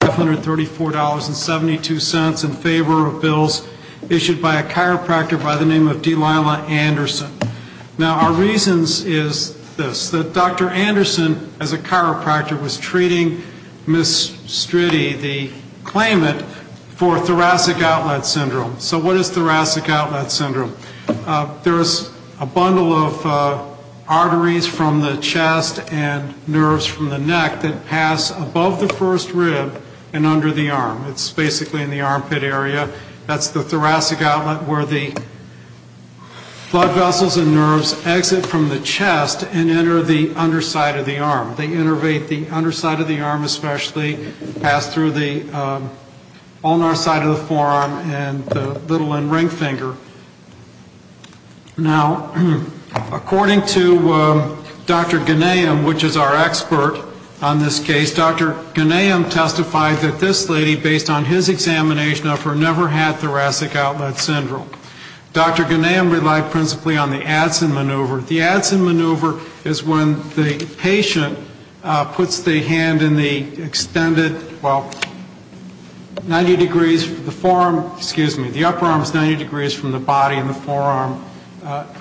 $534.72 in favor of bills issued by a chiropractor by the name of Delilah Anderson. Now, our reasons is this. Dr. Anderson, as a chiropractor, was treating Ms. Striddi, the claimant, for thoracic outlet syndrome. So what is thoracic outlet syndrome? There's a bundle of arteries from the chest and nerves from the neck that pass above the first rib and under the arm. It's basically in the armpit area. That's the thoracic outlet where the blood vessels and nerves exit from the chest and enter the underside of the arm. They innervate the underside of the arm especially, pass through the ulnar side of the forearm and the little and ring finger. Now, according to Dr. Ghanayam, which is our expert on this case, Dr. Ghanayam testified that this lady, based on his examination of her, never had thoracic outlet syndrome. Dr. Ghanayam relied principally on the Adson maneuver. The Adson maneuver is when the patient puts the hand in the extended, well, 90 degrees, the forearm, excuse me, the upper arm is 90 degrees from the body and the forearm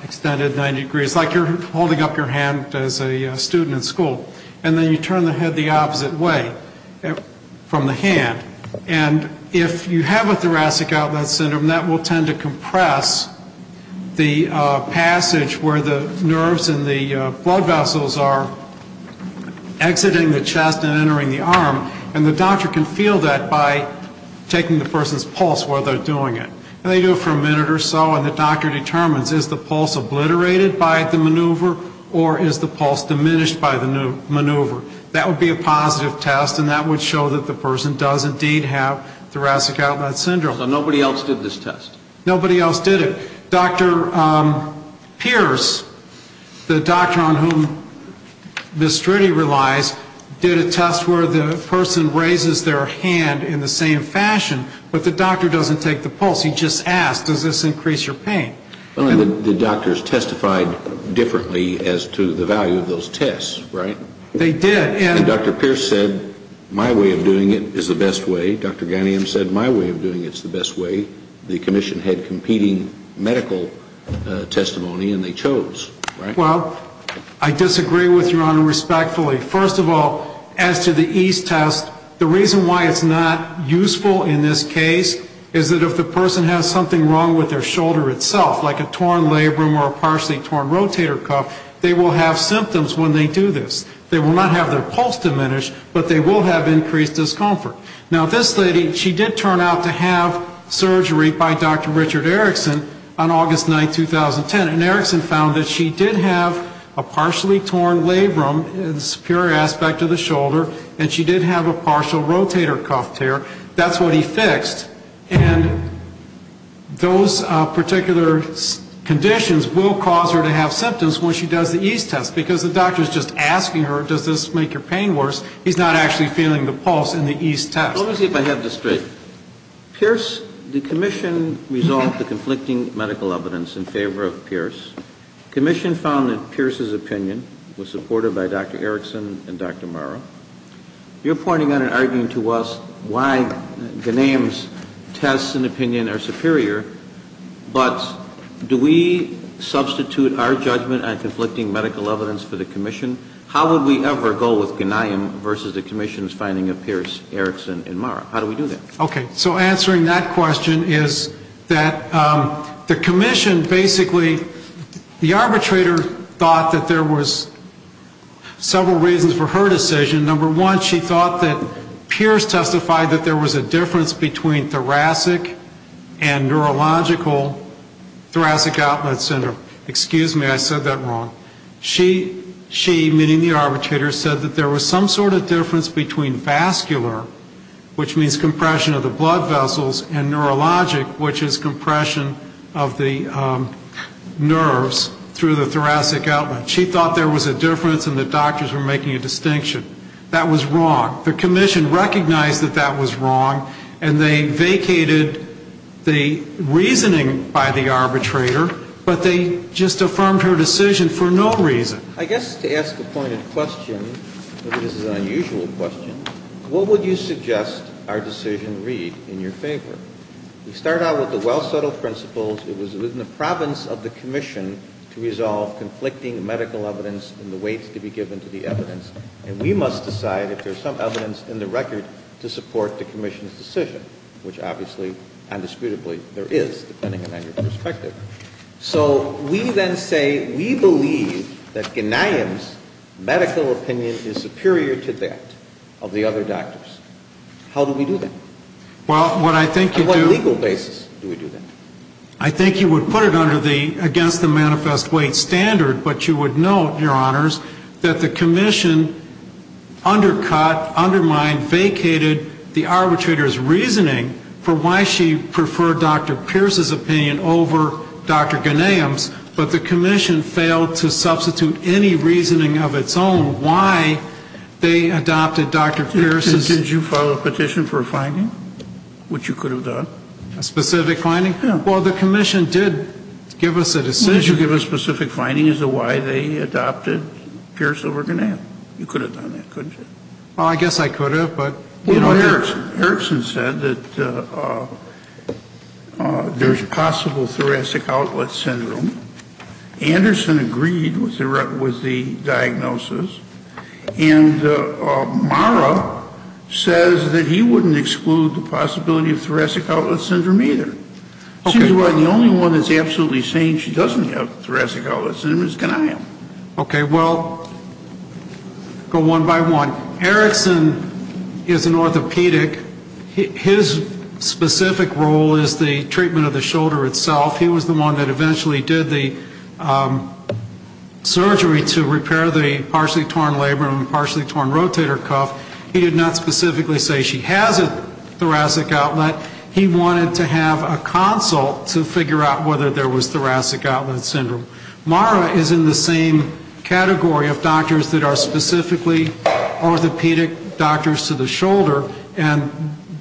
extended 90 degrees, like you're holding up your hand as a student in school. And then you turn the head the opposite way from the hand. And if you have a thoracic outlet syndrome, that will tend to compress the passage where the nerves and the blood vessels are exiting the chest and entering the arm. And the doctor can feel that by taking the person's pulse while they're doing it. And they do it for a minute or so and the doctor determines is the pulse obliterated by the maneuver or is the pulse diminished by the maneuver. That would be a positive test and that would show that the person does indeed have thoracic outlet syndrome. So nobody else did this test? Nobody else did it. Dr. Pierce, the doctor on whom Ms. Strudy relies, did a test where the person raises their hand in the same fashion, but the doctor doesn't take the pulse. He just asks, does this increase your pain? The doctors testified differently as to the value of those tests, right? They did. And Dr. Pierce said my way of doing it is the best way. Dr. Ganium said my way of doing it is the best way. The commission had competing medical testimony and they chose, right? Well, I disagree with Your Honor respectfully. First of all, as to the ease test, the reason why it's not useful in this case is that if the person has something wrong with their shoulder itself, like a torn labrum or a partially torn rotator cuff, they will have symptoms when they do this. They will not have their pulse diminished, but they will have increased discomfort. Now, this lady, she did turn out to have surgery by Dr. Richard Erickson on August 9, 2010, and Erickson found that she did have a partially torn labrum, the superior aspect of the shoulder, and she did have a partial rotator cuff tear. That's what he fixed, and those particular conditions will cause her to have symptoms when she does the ease test because the doctor is just asking her, does this make your pain worse? He's not actually feeling the pulse in the ease test. Let me see if I have this straight. Pierce, the commission resolved the conflicting medical evidence in favor of Pierce. The commission found that Pierce's opinion was supported by Dr. Erickson and Dr. Morrow. You're pointing out and arguing to us why Ganium's tests and opinion are superior, but do we substitute our judgment on conflicting medical evidence for the commission? How would we ever go with Ganium versus the commission's finding of Pierce, Erickson, and Morrow? How do we do that? Okay, so answering that question is that the commission basically, the arbitrator thought that there was several reasons for her decision. Number one, she thought that Pierce testified that there was a difference between thoracic and neurological thoracic outlet syndrome. Excuse me, I said that wrong. She, meaning the arbitrator, said that there was some sort of difference between vascular, which means compression of the blood vessels, and neurologic, which is compression of the nerves through the thoracic outlet. She thought there was a difference and the doctors were making a distinction. That was wrong. The commission recognized that that was wrong, and they vacated the reasoning by the arbitrator, but they just affirmed her decision for no reason. I guess to ask the pointed question, this is an unusual question, what would you suggest our decision read in your favor? We start out with the well-settled principles. It was within the province of the commission to resolve conflicting medical evidence and the weights to be given to the evidence, and we must decide if there's some evidence in the record to support the commission's decision, which obviously, indisputably, there is, depending on your perspective. So we then say we believe that Ghanayim's medical opinion is superior to that of the other doctors. How do we do that? On what legal basis do we do that? I think you would put it against the manifest weight standard, but you would note, Your Honors, that the commission undercut, undermined, vacated the arbitrator's reasoning for why she preferred Dr. Pierce's opinion over Dr. Ghanayim's, but the commission failed to substitute any reasoning of its own why they adopted Dr. Pierce's. Did you file a petition for a finding, which you could have done? A specific finding? Well, the commission did give us a decision. Did you give a specific finding as to why they adopted Pierce over Ghanayim? You could have done that, couldn't you? Well, I guess I could have, but, you know, Erickson said that there's possible thoracic outlet syndrome. Anderson agreed with the diagnosis, and Mara says that he wouldn't exclude the possibility of thoracic outlet syndrome either. Seems like the only one that's absolutely saying she doesn't have thoracic outlet syndrome is Ghanayim. Okay. Well, go one by one. Erickson is an orthopedic. His specific role is the treatment of the shoulder itself. He was the one that eventually did the surgery to repair the partially torn labrum and partially torn rotator cuff. He did not specifically say she has a thoracic outlet. He wanted to have a consult to figure out whether there was thoracic outlet syndrome. Mara is in the same category of doctors that are specifically orthopedic doctors to the shoulder, and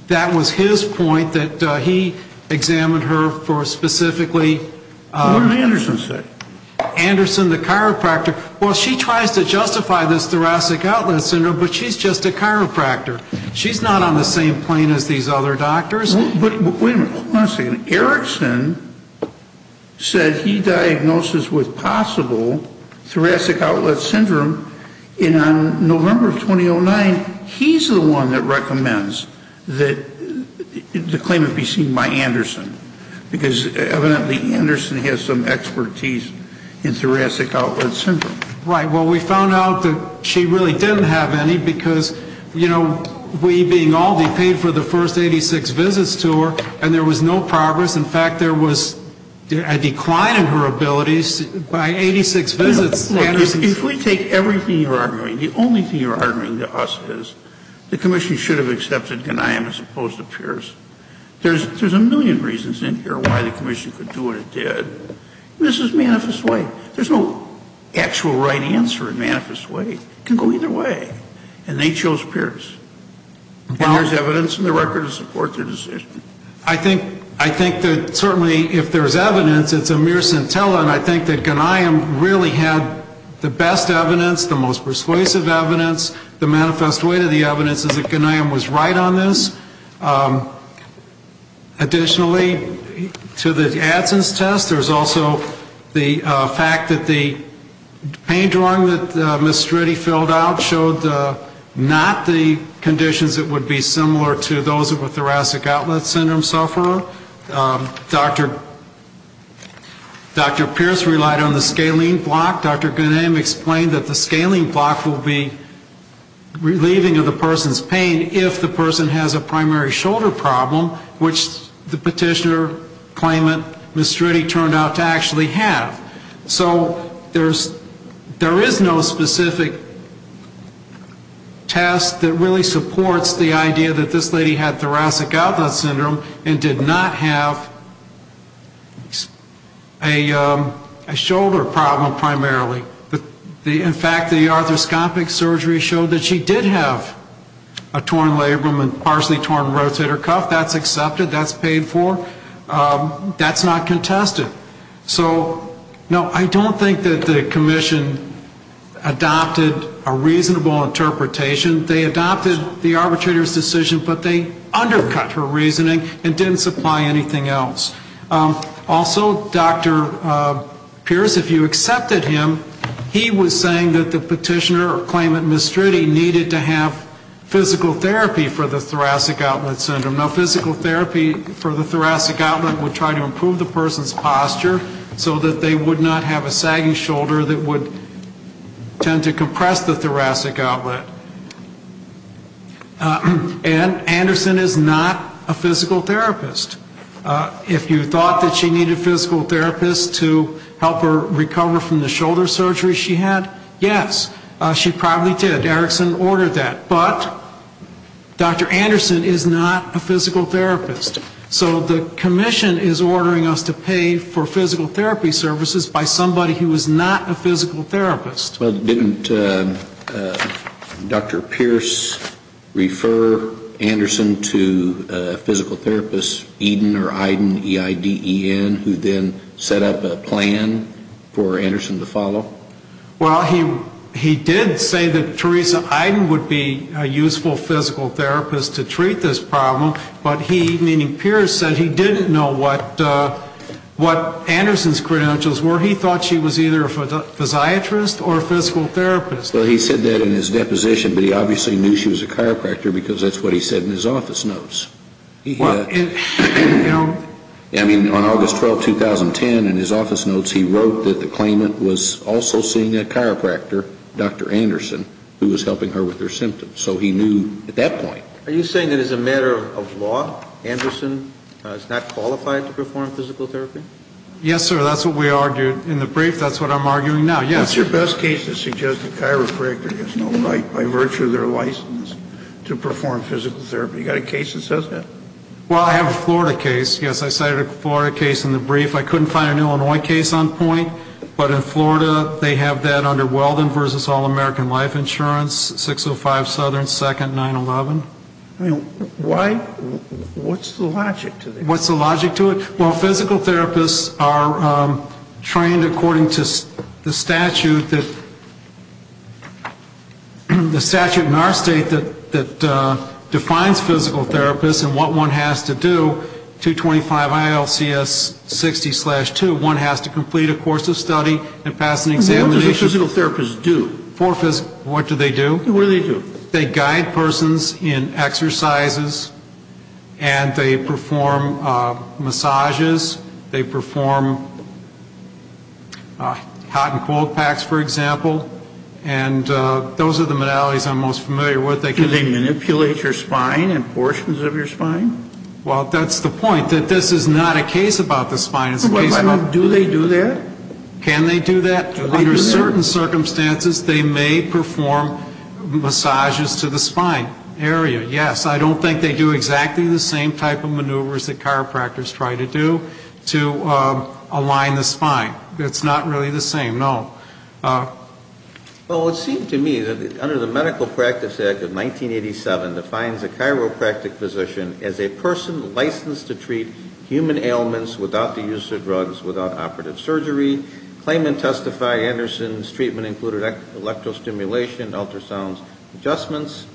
that was his point that he examined her for specifically. What did Anderson say? Anderson, the chiropractor. Well, she tries to justify this thoracic outlet syndrome, but she's just a chiropractor. She's not on the same plane as these other doctors. But wait a minute. Hold on a second. Erickson said he diagnoses with possible thoracic outlet syndrome, and on November of 2009, he's the one that recommends that the claim be seen by Anderson because evidently Anderson has some expertise in thoracic outlet syndrome. Right. Well, we found out that she really didn't have any because, you know, we being Aldi paid for the first 86 visits to her, and there was no progress. In fact, there was a decline in her abilities by 86 visits. Look, if we take everything you're arguing, the only thing you're arguing to us is the commission should have accepted Ghanayim as opposed to Pierce. There's a million reasons in here why the commission could do what it did. This is manifest way. There's no actual right answer in manifest way. It can go either way, and they chose Pierce. And there's evidence in the record to support their decision. I think that certainly if there's evidence, it's a mere scintilla, and I think that Ghanayim really had the best evidence, the most persuasive evidence. The manifest way to the evidence is that Ghanayim was right on this. Additionally, to the Adson's test, there's also the fact that the pain drawing that Ms. Striddy filled out showed not the conditions that would be similar to those of a thoracic outlet syndrome sufferer. Dr. Pierce relied on the scalene block. Dr. Ghanayim explained that the scalene block will be relieving of the person's pain if the person has a primary shoulder problem, which the petitioner claimant, Ms. Striddy, turned out to actually have. So there is no specific test that really supports the idea that this lady had thoracic outlet syndrome and did not have a shoulder problem primarily. In fact, the arthroscopic surgery showed that she did have a torn labrum and partially torn rotator cuff. That's accepted. That's paid for. That's not contested. So, no, I don't think that the commission adopted a reasonable interpretation. They adopted the arbitrator's decision, but they undercut her reasoning and didn't supply anything else. Also, Dr. Pierce, if you accepted him, he was saying that the petitioner or claimant, Ms. Striddy, needed to have physical therapy for the thoracic outlet syndrome. Now, physical therapy for the thoracic outlet would try to improve the person's posture so that they would not have a sagging shoulder that would tend to compress the thoracic outlet. And Anderson is not a physical therapist. If you thought that she needed a physical therapist to help her recover from the shoulder surgery she had, yes, she probably did. Erickson ordered that. But Dr. Anderson is not a physical therapist. So the commission is ordering us to pay for physical therapy services by somebody who is not a physical therapist. Well, didn't Dr. Pierce refer Anderson to a physical therapist, Eden or Iden, E-I-D-E-N, who then set up a plan for Anderson to follow? Well, he did say that Teresa Iden would be a useful physical therapist to treat this problem, but he, meaning Pierce, said he didn't know what Anderson's credentials were. He thought she was either a physiatrist or a physical therapist. Well, he said that in his deposition, but he obviously knew she was a chiropractor because that's what he said in his office notes. I mean, on August 12, 2010, in his office notes, he wrote that the claimant was also seeing a chiropractor, Dr. Anderson, who was helping her with her symptoms. So he knew at that point. Are you saying that as a matter of law, Anderson is not qualified to perform physical therapy? Yes, sir. That's what we argued in the brief. That's what I'm arguing now. Yes. What's your best case that suggests a chiropractor has no right by virtue of their license to perform physical therapy? You got a case that says that? Well, I have a Florida case. Yes, I cited a Florida case in the brief. I couldn't find an Illinois case on point, but in Florida they have that under Weldon v. All-American Life Insurance, 605 Southern 2nd 911. Why? What's the logic to that? What's the logic to it? Well, physical therapists are trained according to the statute that, the statute in our state that defines physical therapists and what one has to do, 225 ILCS 60-2, one has to complete a course of study and pass an examination. What does a physical therapist do? What do they do? What do they do? They guide persons in exercises and they perform massages. They perform hot and cold packs, for example. And those are the modalities I'm most familiar with. Do they manipulate your spine and portions of your spine? Well, that's the point, that this is not a case about the spine. Do they do that? Can they do that? Do they do that? Under certain circumstances, they may perform massages to the spine area, yes. I don't think they do exactly the same type of maneuvers that chiropractors try to do to align the spine. It's not really the same, no. Well, it seemed to me that under the Medical Practice Act of 1987 defines a chiropractic physician as a person licensed to treat human ailments without the use of drugs, without operative surgery, claim and testify Anderson's treatment included electro-stimulation, ultrasounds, adjustments.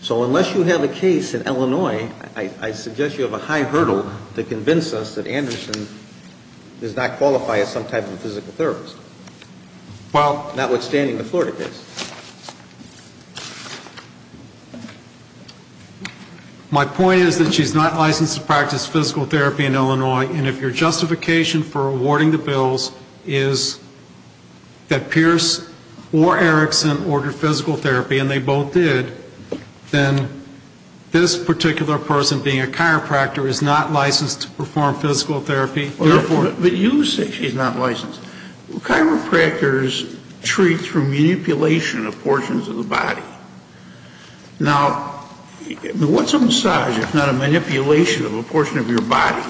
So unless you have a case in Illinois, I suggest you have a high hurdle to convince us that Anderson does not qualify as some type of a physical therapist, notwithstanding the Florida case. My point is that she's not licensed to practice physical therapy in Illinois, and if your justification for awarding the bills is that Pierce or Erickson ordered physical therapy, and they both did, then this particular person being a chiropractor is not licensed to perform physical therapy. But you say she's not licensed. Chiropractors treat through manipulation of portions of the body. Now, what's a massage if not a manipulation of a portion of your body?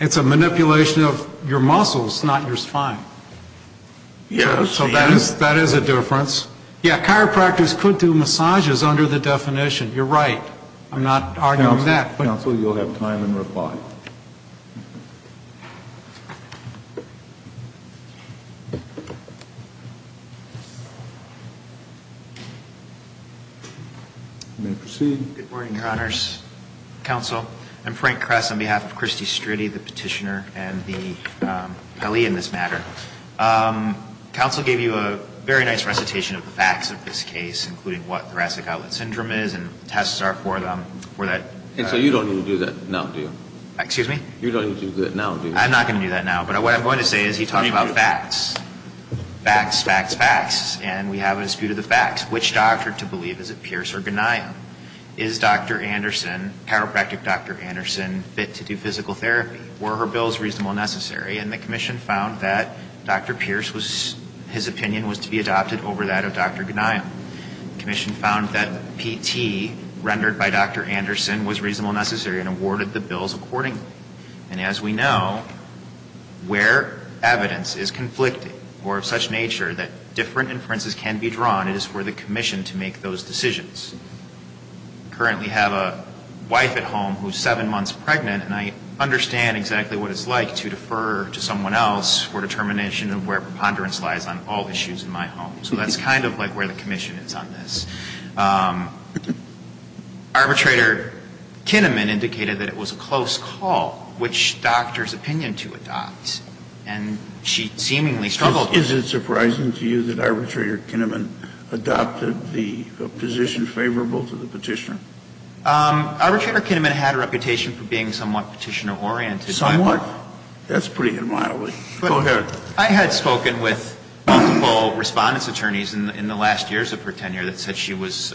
It's a manipulation of your muscles, not your spine. Yes. So that is a difference. Yeah, chiropractors could do massages under the definition. You're right. I'm not arguing that. Counsel, you'll have time and reply. You may proceed. Good morning, Your Honors. Counsel, I'm Frank Kress on behalf of Christy Striddy, the petitioner, and the ally in this matter. Counsel gave you a very nice recitation of the facts of this case, including what thoracic outlet syndrome is and tests are for that. And so you don't need to do that now, do you? Excuse me? You don't need to do that now, do you? I'm not going to do that now. But what I'm going to say is he talked about facts. Facts, facts, facts. And we have a dispute of the facts. Which doctor to believe, is it Pierce or Gania? Is Dr. Anderson, chiropractic Dr. Anderson, fit to do physical therapy? Were her bills reasonable and necessary? And the commission found that Dr. Pierce was, his opinion was to be adopted over that of Dr. Gania. The commission found that PT, rendered by Dr. Anderson, was reasonable and necessary and awarded the bills accordingly. And as we know, where evidence is conflicted or of such nature that different inferences can be drawn, it is for the commission to make those decisions. I currently have a wife at home who is seven months pregnant, and I understand exactly what it's like to defer to someone else for determination of where preponderance lies on all issues in my home. So that's kind of like where the commission is on this. Arbitrator Kinnaman indicated that it was a close call. Which doctor's opinion to adopt? And she seemingly struggled with that. Is it surprising to you that Arbitrator Kinnaman adopted the position favorable to the Petitioner? Arbitrator Kinnaman had a reputation for being somewhat Petitioner-oriented. Somewhat? That's pretty admirable. Go ahead. I had spoken with multiple Respondent's attorneys in the last years of her tenure that said she was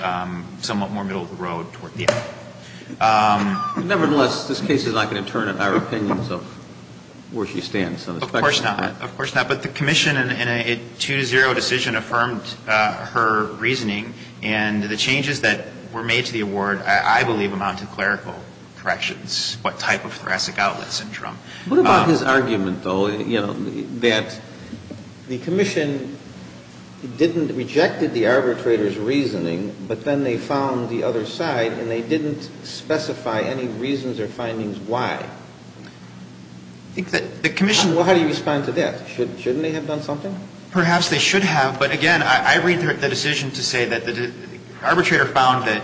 somewhat more middle of the road toward the end. Nevertheless, this case is not going to turn in our opinions of where she stands. Of course not. Of course not. But the commission, in a 2-0 decision, affirmed her reasoning. And the changes that were made to the award, I believe, amount to clerical corrections, what type of thoracic outlet syndrome. What about his argument, though, that the commission didn't reject the arbitrator's reasoning, but then they found the other side and they didn't specify any reasons or findings why? I think that the commission How do you respond to that? Shouldn't they have done something? Perhaps they should have. But again, I read the decision to say that the arbitrator found that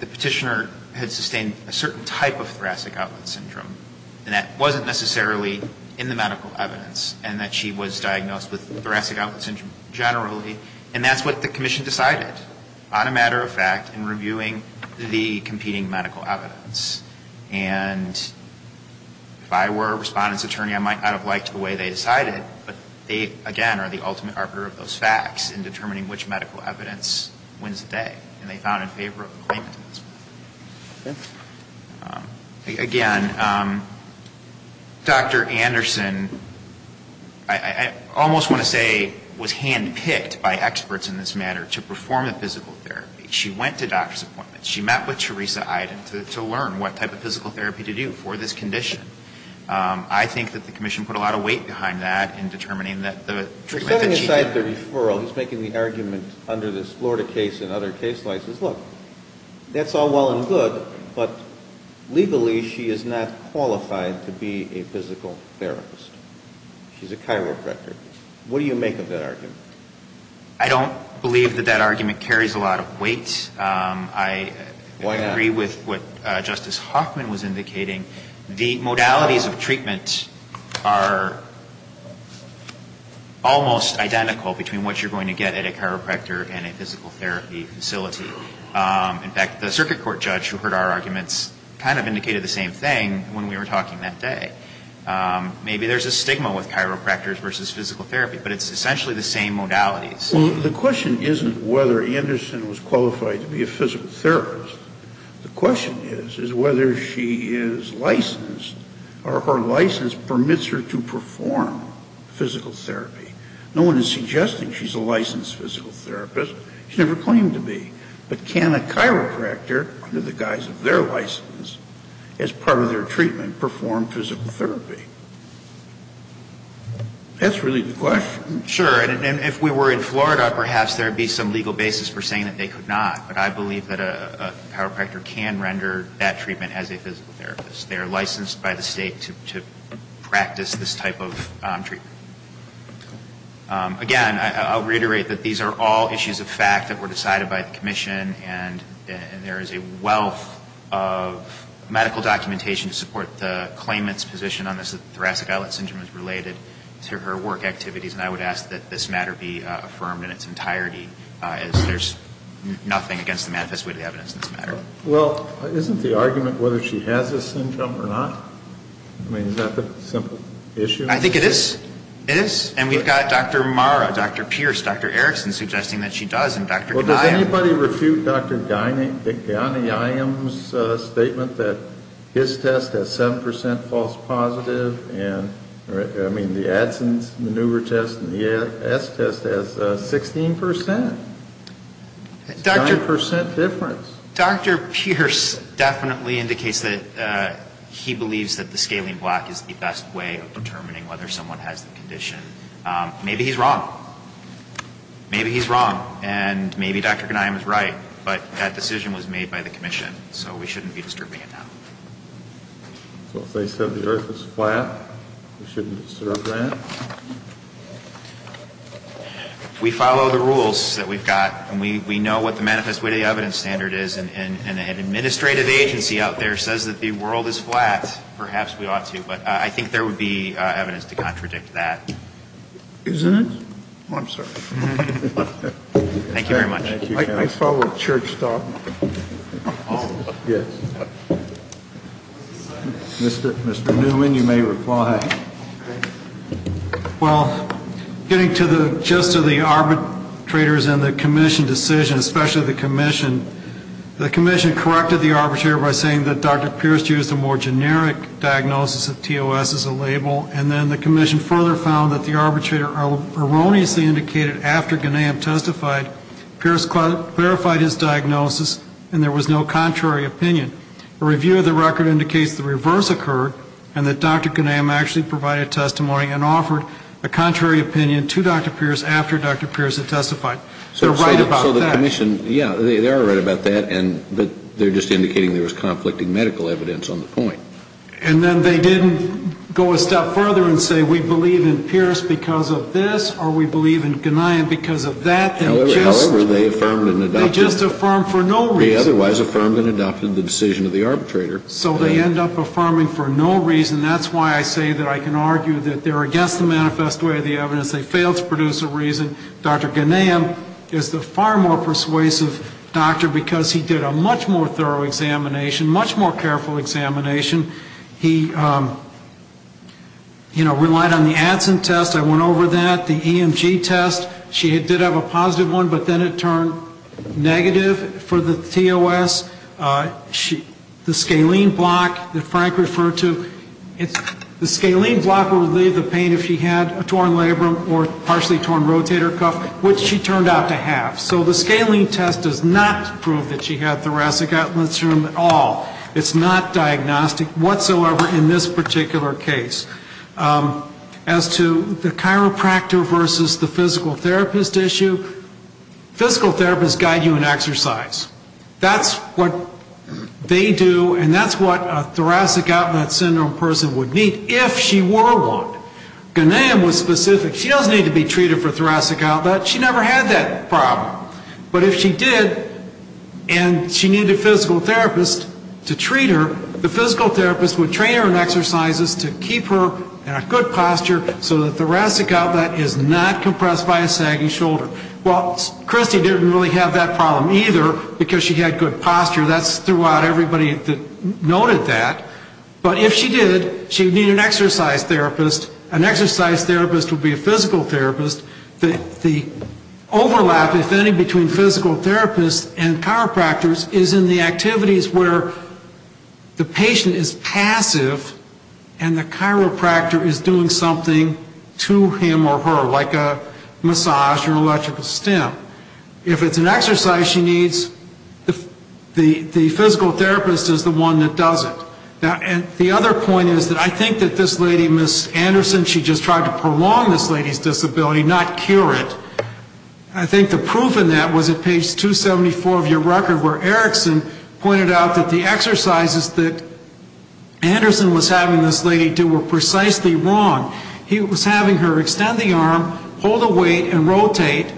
the Petitioner had sustained a certain type of thoracic outlet syndrome. And that wasn't necessarily in the medical evidence. And that she was diagnosed with thoracic outlet syndrome generally. And that's what the commission decided, on a matter of fact, in reviewing the competing medical evidence. And if I were a Respondent's attorney, I might not have liked the way they decided. But they, again, are the ultimate arbiter of those facts in determining which medical evidence wins the day. And they found in favor of the claimant in this way. Again, Dr. Anderson, I almost want to say, was handpicked by experts in this matter to perform the physical therapy. She went to doctor's appointments. She met with Teresa Iden to learn what type of physical therapy to do for this condition. I think that the commission put a lot of weight behind that in determining that the treatment that she did Setting aside the referral, he's making the argument under this Florida case and other case licenses. Look, that's all well and good, but legally she is not qualified to be a physical therapist. She's a chiropractor. What do you make of that argument? I don't believe that that argument carries a lot of weight. Why not? I agree with what Justice Hoffman was indicating. The modalities of treatment are almost identical between what you're going to get at a In fact, the circuit court judge who heard our arguments kind of indicated the same thing when we were talking that day. Maybe there's a stigma with chiropractors versus physical therapy, but it's essentially the same modalities. The question isn't whether Anderson was qualified to be a physical therapist. The question is, is whether she is licensed or her license permits her to perform physical therapy. No one is suggesting she's a licensed physical therapist. She never claimed to be. But can a chiropractor, under the guise of their license, as part of their treatment, perform physical therapy? That's really the question. Sure. And if we were in Florida, perhaps there would be some legal basis for saying that they could not. But I believe that a chiropractor can render that treatment as a physical therapist. They are licensed by the State to practice this type of treatment. Again, I'll reiterate that these are all issues of fact that were decided by the commission and there is a wealth of medical documentation to support the claimant's position on this, that thoracic islet syndrome is related to her work activities. And I would ask that this matter be affirmed in its entirety, as there's nothing against the manifest way of evidence in this matter. Well, isn't the argument whether she has this syndrome or not? I mean, is that the simple issue? I think it is. It is. And we've got Dr. Marra, Dr. Pierce, Dr. Erickson, suggesting that she does, and Dr. Ghanayam. Well, does anybody refute Dr. Ghanayam's statement that his test has 7% false positive and, I mean, the Adsen's maneuver test and the S test has 16%? 9% difference. Dr. Pierce definitely indicates that he believes that the scalene block is the best way of determining whether someone has the condition. Maybe he's wrong. Maybe he's wrong. And maybe Dr. Ghanayam is right. But that decision was made by the commission, so we shouldn't be disturbing it now. So if they said the earth is flat, we shouldn't disrupt that? If we follow the rules that we've got and we know what the manifest way of evidence standard is and an administrative agency out there says that the world is flat, perhaps we ought to. But I think there would be evidence to contradict that. Isn't it? I'm sorry. Thank you very much. I follow a church dog. Yes. Mr. Newman, you may reply. Well, getting to the gist of the arbitrators and the commission decision, especially the commission, the commission corrected the arbitrator by saying that Dr. Pierce used a more generic diagnosis of TOS as a label. And then the commission further found that the arbitrator erroneously indicated after Ghanayam testified, Pierce clarified his diagnosis and there was no contrary opinion. A review of the record indicates the reverse occurred and that Dr. Ghanayam actually provided testimony and offered a contrary opinion to Dr. Pierce after Dr. Pierce had testified. So the commission, yeah, they are right about that, but they're just indicating there was conflicting medical evidence on the point. And then they didn't go a step further and say we believe in Pierce because of this or we believe in Ghanayam because of that. However, they affirmed and adopted. They just affirmed for no reason. They otherwise affirmed and adopted the decision of the arbitrator. So they end up affirming for no reason. That's why I say that I can argue that they're against the manifest way of the evidence. They failed to produce a reason. Dr. Ghanayam is the far more persuasive doctor because he did a much more thorough examination, much more careful examination. He, you know, relied on the Adson test. I went over that, the EMG test. She did have a positive one, but then it turned negative for the TOS. The scalene block that Frank referred to, the scalene block would relieve the pain if she had a torn labrum or partially torn rotator cuff, which she turned out to have. So the scalene test does not prove that she had thoracic outlet syndrome at all. It's not diagnostic whatsoever in this particular case. As to the chiropractor versus the physical therapist issue, physical therapists guide you in exercise. That's what they do and that's what a thoracic outlet syndrome person would need if she were one. Ghanayam was specific. She doesn't need to be treated for thoracic outlet. She never had that problem. But if she did and she needed a physical therapist to treat her, the physical therapist would train her in exercises to keep her in a good posture so the thoracic outlet is not compressed by a sagging shoulder. Well, Christy didn't really have that problem either because she had good posture. That's throughout everybody that noted that. But if she did, she would need an exercise therapist. An exercise therapist would be a physical therapist. The overlap, if any, between physical therapists and chiropractors is in the activities where the patient is passive and the chiropractor is doing something to him or her, like a massage or electrical stim. If it's an exercise she needs, the physical therapist is the one that does it. The other point is that I think that this lady, Ms. Anderson, she just tried to prolong this lady's disability, not cure it. I think the proof in that was at page 274 of your record where Erickson pointed out that the exercises that Anderson was having this lady do were precisely wrong. He was having her extend the arm, hold a weight, and rotate.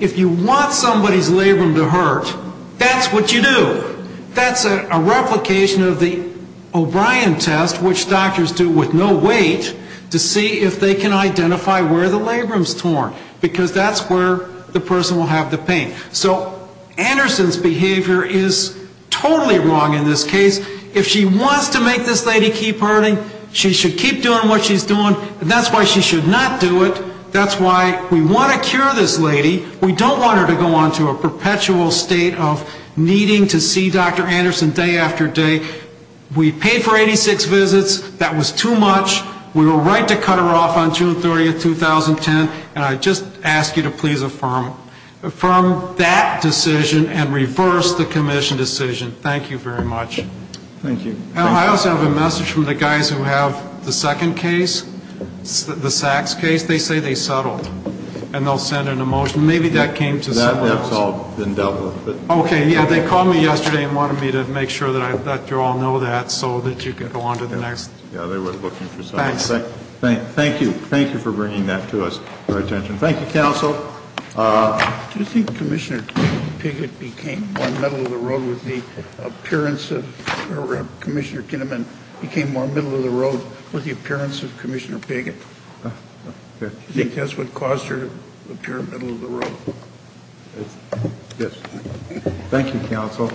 If you want somebody's labrum to hurt, that's what you do. That's a replication of the O'Brien test, which doctors do with no weight, to see if they can identify where the labrum's torn because that's where the person will have the pain. So Anderson's behavior is totally wrong in this case. If she wants to make this lady keep hurting, she should keep doing what she's doing. And that's why she should not do it. That's why we want to cure this lady. We don't want her to go on to a perpetual state of needing to see Dr. Anderson day after day. We paid for 86 visits. That was too much. We were right to cut her off on June 30, 2010. And I just ask you to please affirm that decision and reverse the commission decision. Thank you very much. Thank you. I also have a message from the guys who have the second case, the Sachs case. They say they settled, and they'll send in a motion. Maybe that came to settle this. That has all been dealt with. Okay. Yeah, they called me yesterday and wanted me to make sure that you all know that so that you can go on to the next. Yeah, they were looking for someone. Thanks. Thank you. Thank you for bringing that to us for attention. Thank you, counsel. Do you think Commissioner Piggott became more middle-of-the-road with the appearance of Commissioner Kinnaman became more middle-of-the-road with the appearance of Commissioner Piggott? Do you think that's what caused her to appear middle-of-the-road? Yes. Thank you, counsel.